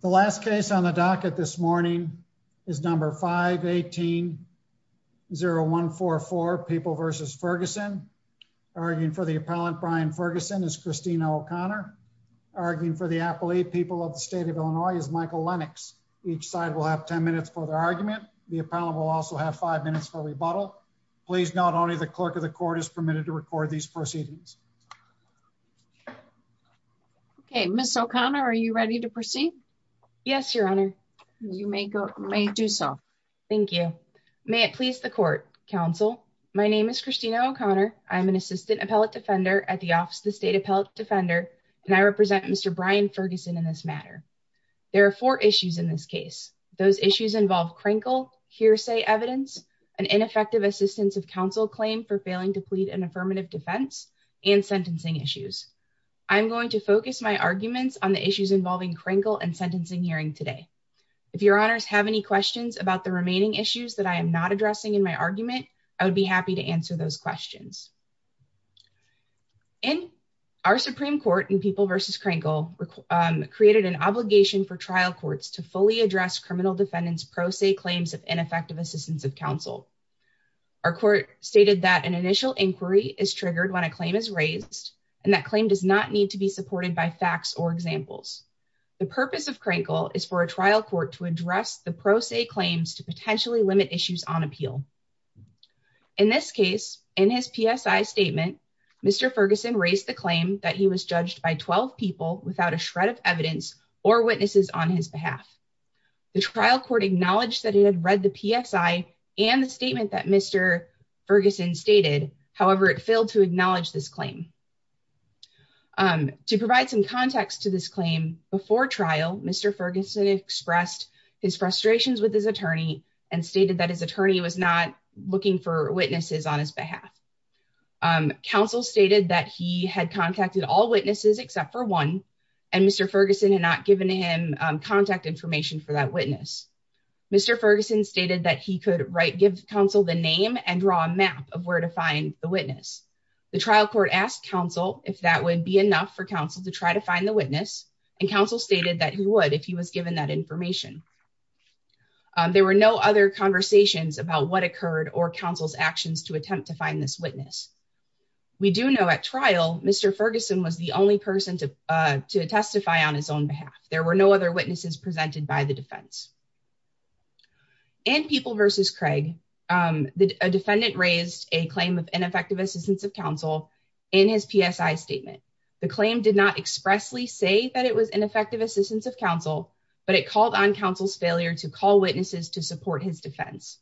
The last case on the docket this morning is number 518-0144, People v. Ferguson. Arguing for the appellant, Brian Ferguson, is Christina O'Connor. Arguing for the appellate, People of the State of Illinois, is Michael Lennox. Each side will have 10 minutes for their argument. The appellant will also have 5 minutes for rebuttal. Please note only the clerk of the court is permitted to record these proceedings. Ms. O'Connor, are you ready to proceed? Yes, Your Honor. You may do so. Thank you. May it please the Court, Counsel. My name is Christina O'Connor. I am an Assistant Appellate Defender at the Office of the State Appellate Defender, and I represent Mr. Brian Ferguson in this matter. There are four issues in this case. Those issues involve Krinkle hearsay evidence, an ineffective assistance of counsel claim for failing to plead an affirmative defense, and sentencing issues. I am going to focus my arguments on the issues involving Krinkle and sentencing hearing today. If Your Honors have any questions about the remaining issues that I am not addressing in my argument, I would be happy to answer those questions. Our Supreme Court in People v. Krinkle created an obligation for trial courts to fully address criminal defendants' pro se claims of ineffective assistance of counsel. Our court stated that an initial inquiry is triggered when a claim is raised, and that claim does not need to be supported by facts or examples. The purpose of Krinkle is for a trial court to address the pro se claims to potentially limit issues on appeal. In this case, in his PSI statement, Mr. Ferguson raised the claim that he was judged by 12 people without a shred of evidence or witnesses on his behalf. The trial court acknowledged that it had read the PSI and the statement that Mr. Ferguson stated, however, it failed to acknowledge this claim. To provide some context to this claim, before trial, Mr. Ferguson expressed his frustrations with his attorney and stated that his attorney was not looking for witnesses on his behalf. Counsel stated that he had contacted all witnesses except for one, and Mr. Ferguson had not given him contact information for that witness. Mr. Ferguson stated that he could give counsel the name and draw a map of where to find the witness. The trial court asked counsel if that would be enough for counsel to try to find the witness, and counsel stated that he would if he was given that information. There were no other conversations about what occurred or counsel's actions to attempt to find this witness. We do know at trial, Mr. Ferguson was the only person to testify on his own behalf. There were no other witnesses presented by the defense. In People v. Craig, a defendant raised a claim of ineffective assistance of counsel in his PSI statement. The claim did not expressly say that it was ineffective assistance of counsel, but it called on counsel's failure to call witnesses to support his defense.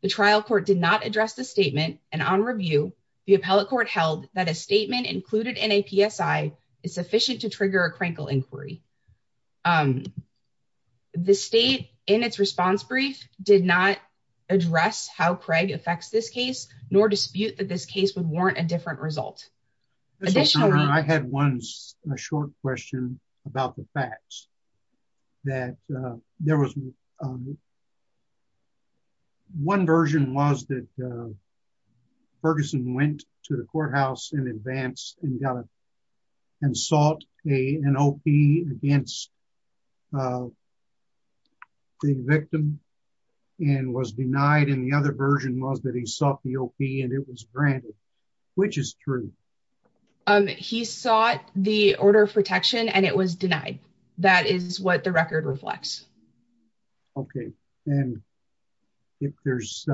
The trial court did not address the statement, and on review, the appellate court held that a statement included in a PSI is sufficient to trigger a crankle inquiry. The state, in its response brief, did not address how Craig affects this case, nor dispute that this case would warrant a different result. I had one short question about the facts. One version was that Ferguson went to the courthouse in advance and sought an OP against the victim and was denied, and the other version was that he sought the OP and it was granted. Which is true? He sought the order of protection and it was denied. That is what the record reflects. Okay, and if there's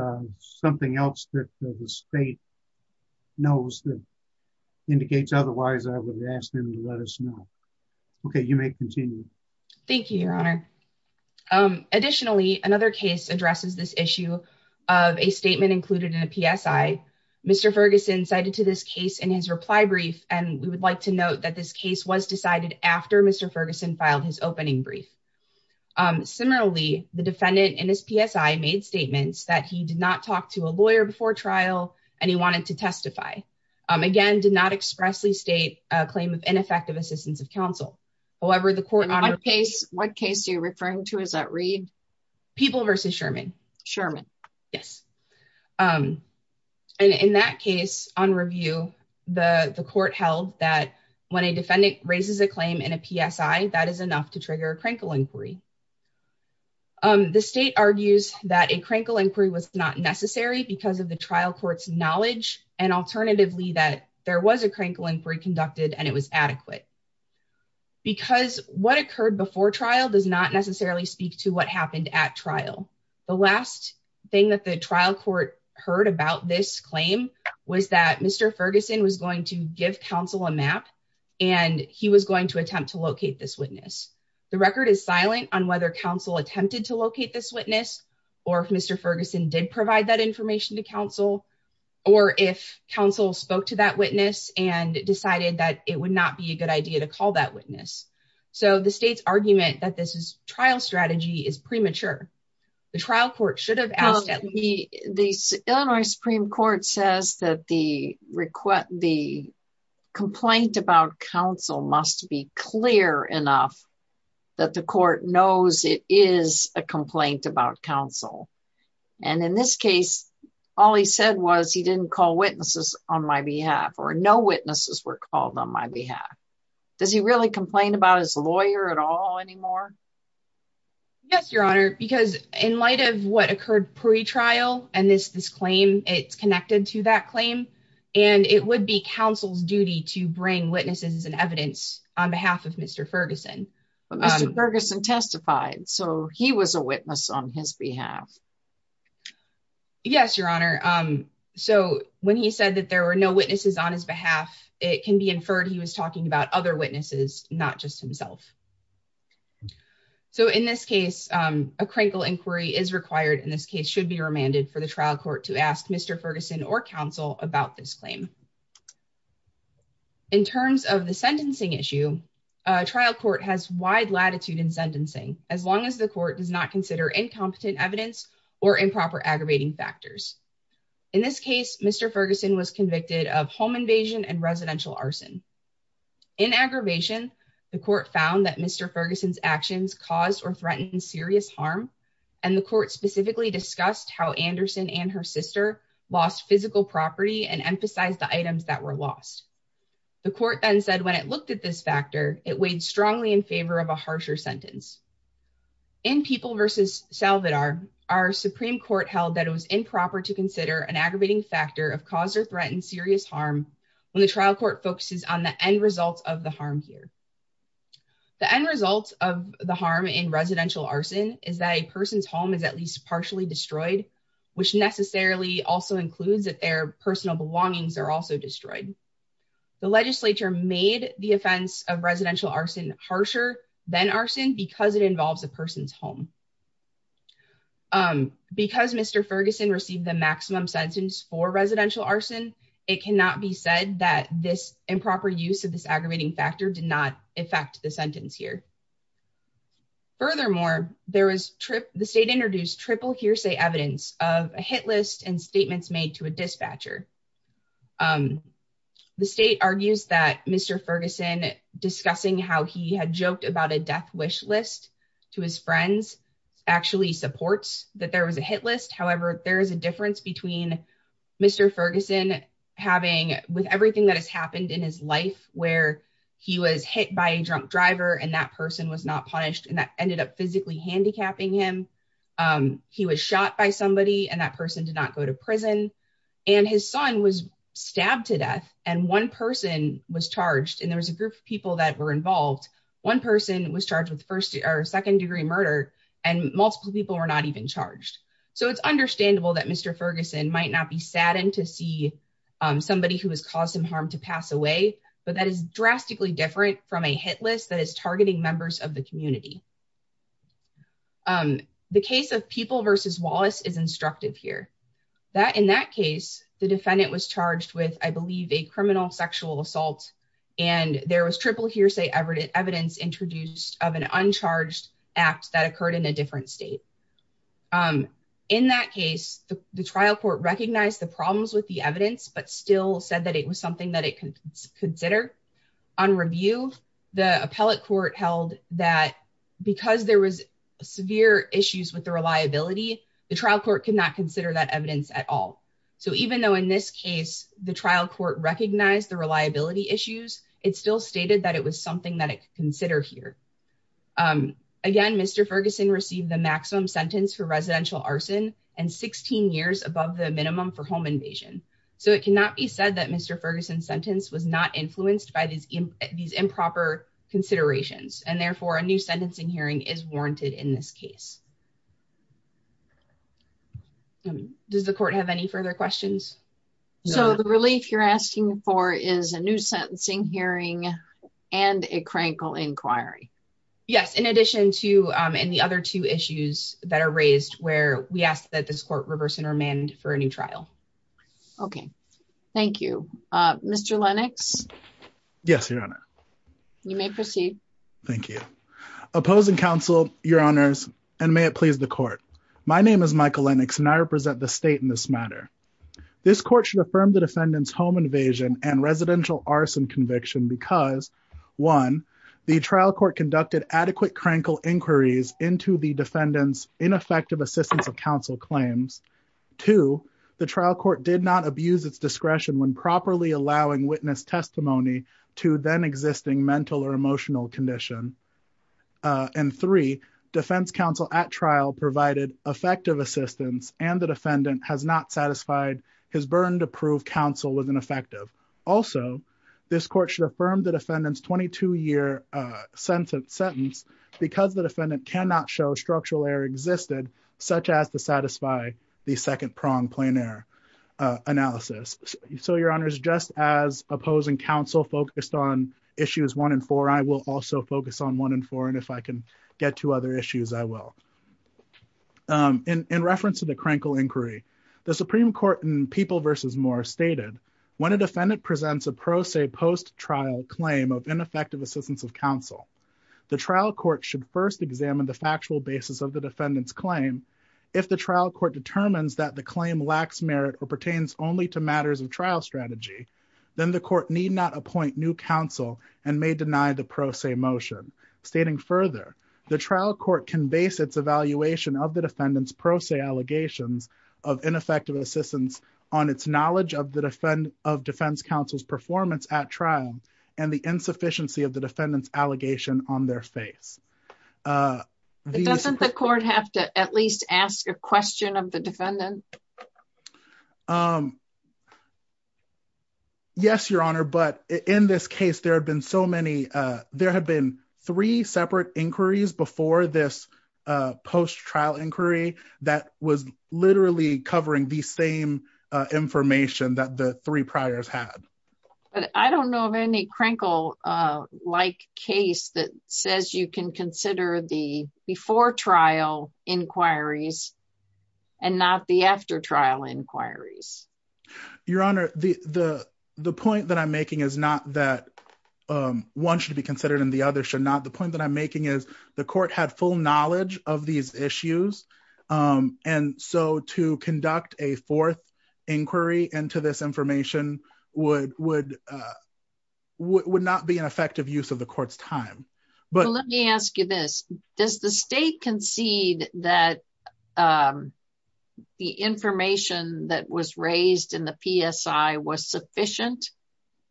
something else that the state knows that indicates otherwise, I would ask them to let us know. Okay, you may continue. Thank you, Your Honor. Additionally, another case addresses this issue of a statement included in a PSI. Mr. Ferguson cited to this case in his reply brief, and we would like to note that this case was decided after Mr. Ferguson filed his opening brief. Similarly, the defendant in his PSI made statements that he did not talk to a lawyer before trial, and he wanted to testify. Again, did not expressly state a claim of ineffective assistance of counsel. What case are you referring to? Is that Reed? People v. Sherman. Sherman. Yes. And in that case, on review, the court held that when a defendant raises a claim in a PSI, that is enough to trigger a crankle inquiry. The state argues that a crankle inquiry was not necessary because of the trial court's knowledge, and alternatively that there was a crankle inquiry conducted and it was adequate. Because what occurred before trial does not necessarily speak to what happened at trial. The last thing that the trial court heard about this claim was that Mr. Ferguson was going to give counsel a map, and he was going to attempt to locate this witness. The record is silent on whether counsel attempted to locate this witness, or if Mr. Ferguson did provide that information to counsel, or if counsel spoke to that witness and decided that it would not be a good idea to call that witness. So the state's argument that this trial strategy is premature. The trial court should have asked that. The Illinois Supreme Court says that the complaint about counsel must be clear enough that the court knows it is a complaint about counsel. And in this case, all he said was he didn't call witnesses on my behalf, or no witnesses were called on my behalf. Does he really complain about his lawyer at all anymore? Yes, Your Honor, because in light of what occurred pre-trial and this claim, it's connected to that claim, and it would be counsel's duty to bring witnesses and evidence on behalf of Mr. Ferguson. But Mr. Ferguson testified, so he was a witness on his behalf. Yes, Your Honor. So when he said that there were no witnesses on his behalf, it can be inferred he was talking about other witnesses, not just himself. So in this case, a crinkle inquiry is required in this case should be remanded for the trial court to ask Mr. Ferguson or counsel about this claim. In terms of the sentencing issue, trial court has wide latitude in sentencing, as long as the court does not consider incompetent evidence or improper aggravating factors. In this case, Mr. Ferguson was convicted of home invasion and residential arson. In aggravation, the court found that Mr. Ferguson's actions caused or threatened serious harm, and the court specifically discussed how Anderson and her sister lost physical property and emphasized the items that were lost. The court then said when it looked at this factor, it weighed strongly in favor of a harsher sentence. In People v. Salvador, our Supreme Court held that it was improper to consider an aggravating factor of cause or threat and serious harm when the trial court focuses on the end results of the harm here. The end results of the harm in residential arson is that a person's home is at least partially destroyed, which necessarily also includes that their personal belongings are also destroyed. The legislature made the offense of residential arson harsher than arson because it involves a person's home. Because Mr. Ferguson received the maximum sentence for residential arson, it cannot be said that this improper use of this aggravating factor did not affect the sentence here. Furthermore, the state introduced triple hearsay evidence of a hit list and statements made to a dispatcher. The state argues that Mr. Ferguson discussing how he had joked about a death wish list to his friends actually supports that there was a hit list. However, there is a difference between Mr. Ferguson having with everything that has happened in his life where he was hit by a drunk driver and that person was not punished and that ended up physically handicapping him. He was shot by somebody and that person did not go to prison and his son was stabbed to death and one person was charged and there was a group of people that were involved. One person was charged with first or second degree murder and multiple people were not even charged. So it's understandable that Mr. Ferguson might not be saddened to see somebody who has caused him harm to pass away, but that is drastically different from a hit list that is targeting members of the community. The case of People v. Wallace is instructive here. In that case, the defendant was charged with, I believe, a criminal sexual assault and there was triple hearsay evidence introduced of an uncharged act that occurred in a different state. In that case, the trial court recognized the problems with the evidence but still said that it was something that it could consider. On review, the appellate court held that because there was severe issues with the reliability, the trial court could not consider that evidence at all. So even though in this case the trial court recognized the reliability issues, it still stated that it was something that it could consider here. Again, Mr. Ferguson received the maximum sentence for residential arson and 16 years above the minimum for home invasion. So it cannot be said that Mr. Ferguson's sentence was not influenced by these improper considerations and therefore a new sentencing hearing is warranted in this case. Does the court have any further questions? So the relief you're asking for is a new sentencing hearing and a crankle inquiry? Yes, in addition to the other two issues that are raised where we ask that this court reverse intermand for a new trial. Okay, thank you. Mr. Lennox? Yes, Your Honor. You may proceed. Thank you. Opposing counsel, Your Honors, and may it please the court. My name is Michael Lennox and I represent the state in this matter. This court should affirm the defendant's home invasion and residential arson conviction because 1. The trial court conducted adequate crankle inquiries into the defendant's ineffective assistance of counsel claims. 2. The trial court did not abuse its discretion when properly allowing witness testimony to then existing mental or emotional condition. And 3. Defense counsel at trial provided effective assistance and the defendant has not satisfied his burden to prove counsel was ineffective. Also, this court should affirm the defendant's 22-year sentence because the defendant cannot show structural error existed, such as to satisfy the second-pronged plain error analysis. So, Your Honors, just as opposing counsel focused on issues 1 and 4, I will also focus on 1 and 4, and if I can get to other issues, I will. In reference to the crankle inquiry, the Supreme Court in People v. Moore stated, When a defendant presents a pro se post-trial claim of ineffective assistance of counsel, the trial court should first examine the factual basis of the defendant's claim. If the trial court determines that the claim lacks merit or pertains only to matters of trial strategy, then the court need not appoint new counsel and may deny the pro se motion. Stating further, the trial court can base its evaluation of the defendant's pro se allegations of ineffective assistance on its knowledge of defense counsel's performance at trial and the insufficiency of the defendant's allegation on their face. Doesn't the court have to at least ask a question of the defendant? Yes, Your Honor, but in this case, there have been three separate inquiries before this post-trial inquiry that was literally covering the same information that the three priors had. I don't know of any crankle-like case that says you can consider the before-trial inquiries and not the after-trial inquiries. Your Honor, the point that I'm making is not that one should be considered and the other should not. The point that I'm making is the court had full knowledge of these issues, and so to conduct a fourth inquiry into this information would not be an effective use of the court's time. Let me ask you this. Does the state concede that the information that was raised in the PSI was sufficient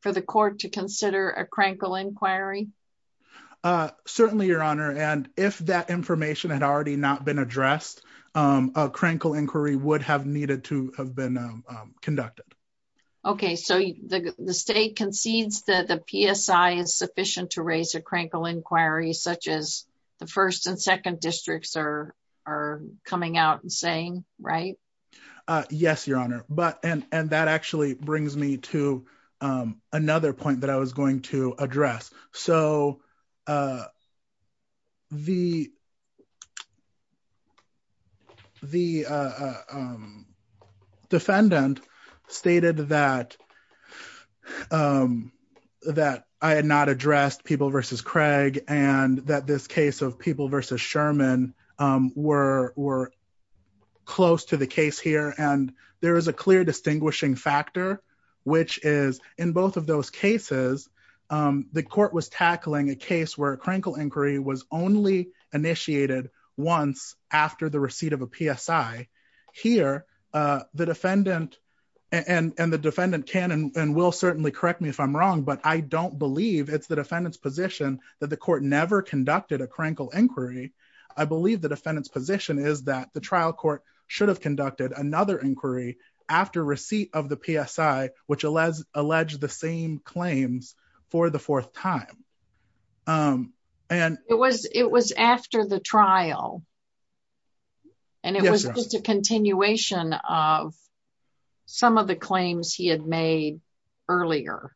for the court to consider a crankle inquiry? Certainly, Your Honor, and if that information had already not been addressed, a crankle inquiry would have needed to have been conducted. Okay, so the state concedes that the PSI is sufficient to raise a crankle inquiry, such as the first and second districts are coming out and saying, right? Yes, Your Honor, and that actually brings me to another point that I was going to address. So the defendant stated that I had not addressed People v. Craig, and that this case of People v. Sherman were close to the case here, and there is a clear distinguishing factor, which is in both of those cases, the court was tackling a case where a crankle inquiry was only initiated once after the receipt of a PSI. Here, the defendant, and the defendant can and will certainly correct me if I'm wrong, but I don't believe it's the defendant's position that the court never conducted a crankle inquiry. I believe the defendant's position is that the trial court should have conducted another inquiry after receipt of the PSI, which alleged the same claims for the fourth time. It was after the trial, and it was just a continuation of some of the claims he had made earlier,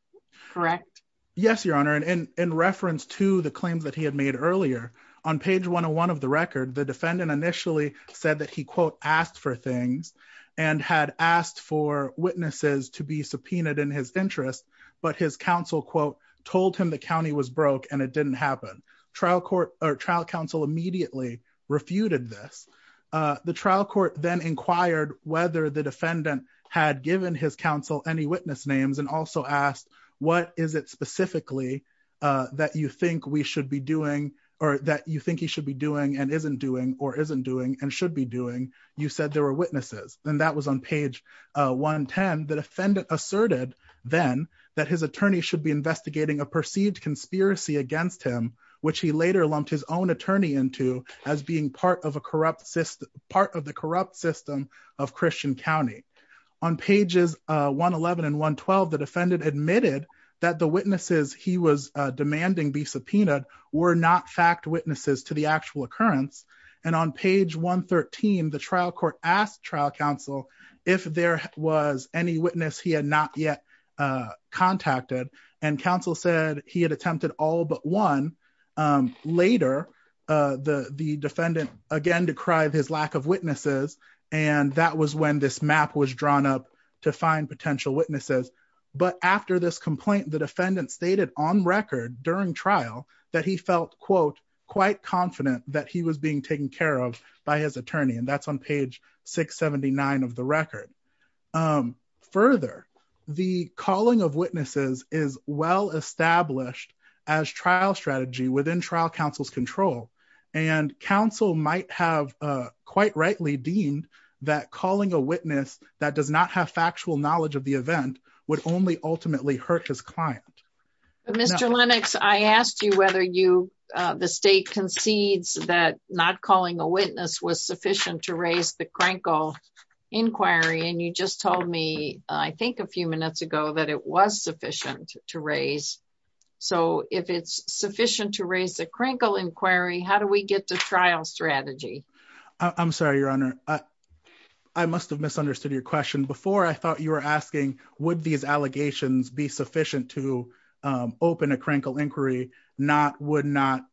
correct? Yes, Your Honor, and in reference to the claims that he had made earlier, in the 101 of the record, the defendant initially said that he, quote, asked for things and had asked for witnesses to be subpoenaed in his interest, but his counsel, quote, told him the county was broke and it didn't happen. Trial counsel immediately refuted this. The trial court then inquired whether the defendant had given his counsel any witness names and also asked, what is it specifically that you think we should be doing, or that you think he should be doing and isn't doing, or isn't doing and should be doing? You said there were witnesses, and that was on page 110. The defendant asserted then that his attorney should be investigating a perceived conspiracy against him, which he later lumped his own attorney into as being part of the corrupt system of Christian County. On pages 111 and 112, the defendant admitted that the witnesses he was demanding be subpoenaed were not fact witnesses to the actual occurrence. And on page 113, the trial court asked trial counsel if there was any witness he had not yet contacted, and counsel said he had attempted all but one. Later, the defendant again decried his lack of witnesses, and that was when this map was drawn up to find potential witnesses. But after this complaint, the defendant stated on record during trial that he felt, quote, quite confident that he was being taken care of by his attorney, and that's on page 679 of the record. Further, the calling of witnesses is well established as trial strategy within trial counsel's control, and counsel might have quite rightly deemed that calling a witness that does not have factual knowledge of the event would only ultimately hurt his client. Mr. Lennox, I asked you whether the state concedes that not calling a witness was sufficient to raise the Krenkel inquiry, and you just told me, I think a few minutes ago, that it was sufficient to raise. So if it's sufficient to raise the Krenkel inquiry, how do we get to trial strategy? I'm sorry, Your Honor. I must have misunderstood your question. Before, I thought you were asking would these allegations be sufficient to open a Krenkel inquiry, not would not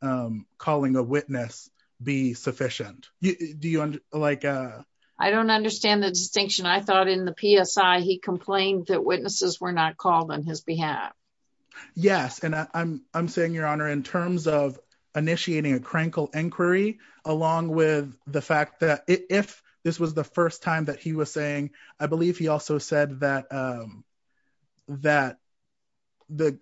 calling a witness be sufficient. Do you, like... I don't understand the distinction. I thought in the PSI he complained that witnesses were not called on his behalf. Yes, and I'm saying, Your Honor, in terms of initiating a Krenkel inquiry, along with the fact that if this was the first time that he was saying, I believe he also said that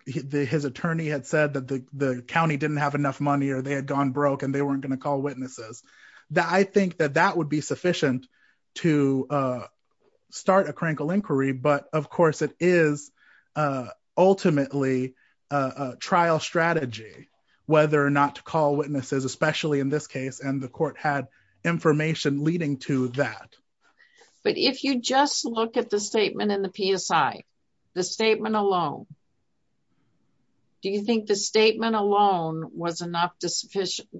his attorney had said that the county didn't have enough money or they had gone broke and they weren't going to call witnesses. I think that that would be sufficient to start a Krenkel inquiry, but of course it is ultimately a trial strategy whether or not to call witnesses, especially in this case, and the court had information leading to that. But if you just look at the statement in the PSI, the statement alone, do you think the statement alone was enough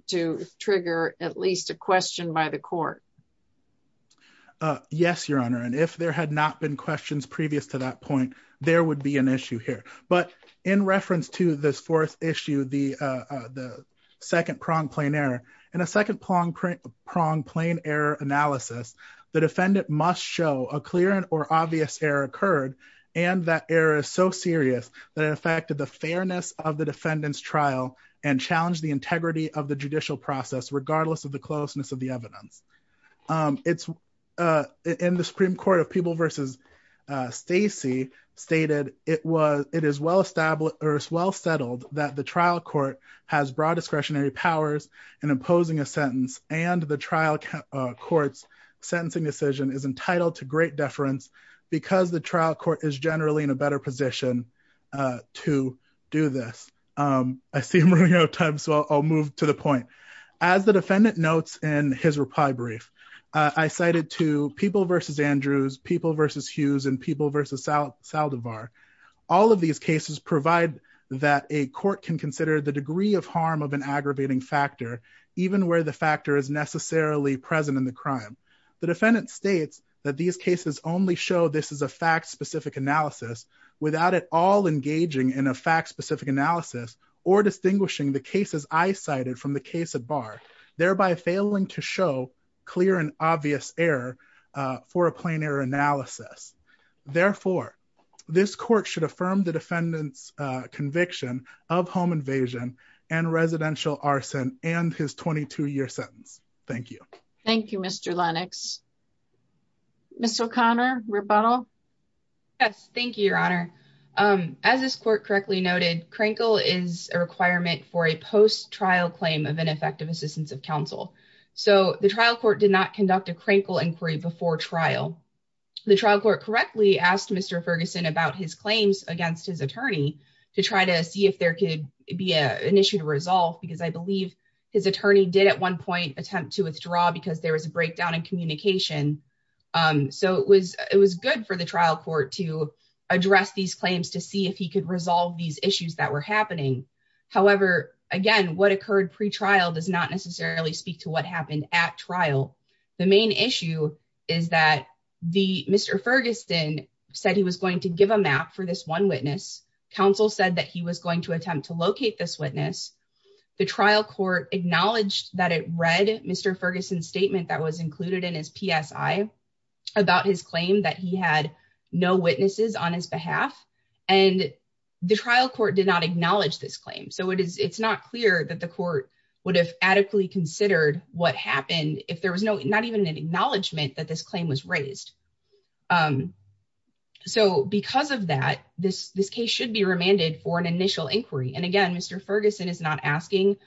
to trigger at least a question by the court? Yes, Your Honor, and if there had not been questions previous to that point, there would be an issue here. But in reference to this fourth issue, the second-pronged plain error, in a second-pronged plain error analysis, the defendant must show a clear or obvious error occurred, and that error is so serious that it affected the fairness of the defendant's trial and challenged the integrity of the judicial process, regardless of the closeness of the evidence. In the Supreme Court of People v. Stacey stated, it is well settled that the trial court has broad discretionary powers in imposing a sentence and the trial court's sentencing decision is entitled to great deference because the trial court is generally in a better position to do this. I see I'm running out of time, so I'll move to the point. As the defendant notes in his reply brief, I cited to People v. Andrews, People v. Hughes, and People v. Saldivar. All of these cases provide that a court can consider the degree of harm of an aggravating factor, even where the factor is necessarily present in the crime. The defendant states that these cases only show this is a fact-specific analysis without at all engaging in a fact-specific analysis or distinguishing the cases I cited from the case at bar, thereby failing to show clear and obvious error for a plain error analysis. Therefore, this court should affirm the defendant's conviction of home invasion and residential arson and his 22-year sentence. Thank you. Thank you, Mr. Lennox. Ms. O'Connor, rebuttal? Yes, thank you, Your Honor. As this court correctly noted, crankle is a requirement for a post-trial claim of ineffective assistance of counsel. So the trial court did not conduct a crankle inquiry before trial. The trial court correctly asked Mr. Ferguson about his claims against his attorney to try to see if there could be an issue to resolve, because I believe his attorney did at one point attempt to withdraw because there was a breakdown in communication. So it was good for the trial court to address these claims to see if he could resolve these issues that were happening. However, again, what occurred pretrial does not necessarily speak to what happened at trial. The main issue is that Mr. Ferguson said he was going to give a map for this one witness. Counsel said that he was going to attempt to locate this witness. The trial court acknowledged that it read Mr. Ferguson's statement that was included in his PSI about his claim, that he had no witnesses on his behalf. And the trial court did not acknowledge this claim. So it's not clear that the court would have adequately considered what happened if there was not even an acknowledgement that this claim was raised. So because of that, this case should be remanded for an initial inquiry. And again, Mr. Ferguson is not asking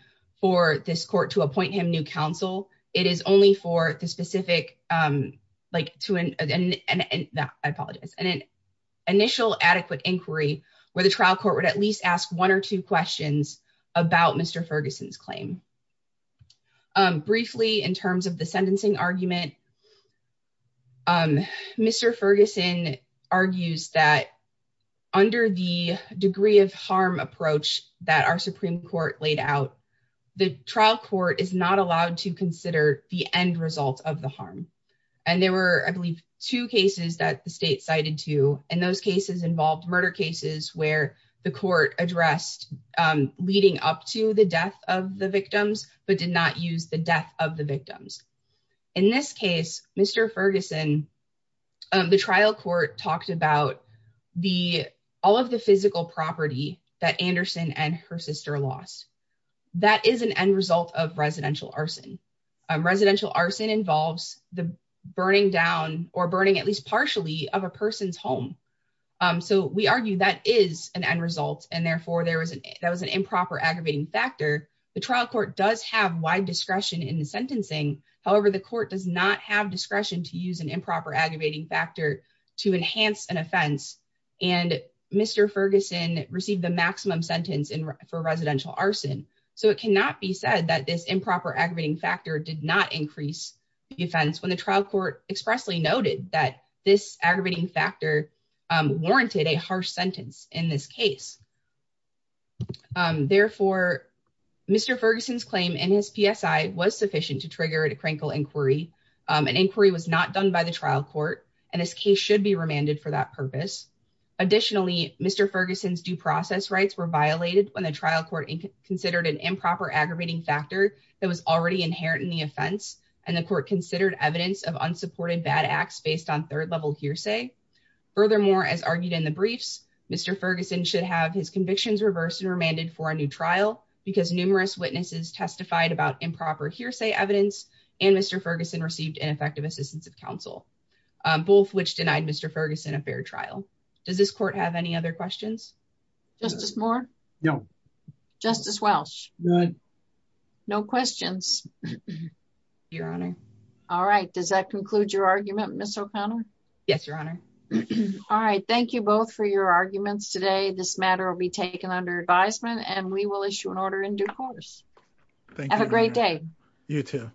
for this court to appoint him new counsel. It is only for the specific, I apologize, an initial adequate inquiry where the trial court would at least ask one or two questions about Mr. Ferguson's claim. Briefly, in terms of the sentencing argument, Mr. Ferguson argues that under the degree of harm approach that our Supreme Court laid out, the trial court is not allowed to consider the end result of the harm. And there were, I believe, two cases that the state cited to, and those cases involved murder cases where the court addressed leading up to the death of the victims, but did not use the death of the victims. In this case, Mr. Ferguson, the trial court talked about all of the physical property that Anderson and her sister lost. That is an end result of residential arson. Residential arson involves the burning down or burning at least partially of a person's home. So we argue that is an end result, and therefore that was an improper aggravating factor. The trial court does have wide discretion in the sentencing. However, the court does not have discretion to use an improper aggravating factor to enhance an offense. And Mr. Ferguson received the maximum sentence for residential arson, so it cannot be said that this improper aggravating factor did not increase the offense when the trial court expressly noted that this aggravating factor warranted a harsh sentence in this case. Therefore, Mr. Ferguson's claim in his PSI was sufficient to trigger a Krankel inquiry. An inquiry was not done by the trial court, and this case should be remanded for that purpose. Additionally, Mr. Ferguson's due process rights were violated when the trial court considered an improper aggravating factor that was already inherent in the offense, and the court considered evidence of unsupported bad acts based on third-level hearsay. Furthermore, as argued in the briefs, Mr. Ferguson should have his convictions reversed and remanded for a new trial because numerous witnesses testified about improper hearsay evidence, and Mr. Ferguson received ineffective assistance of counsel, both which denied Mr. Ferguson a fair trial. Does this court have any other questions? Justice Moore? No. Justice Welsh? None. No questions? Your Honor. All right. Does that conclude your argument, Ms. O'Connor? Yes, Your Honor. All right. Thank you both for your arguments today. This matter will be taken under advisement, and we will issue an order in due course. Thank you, Your Honor. Have a great day. You too.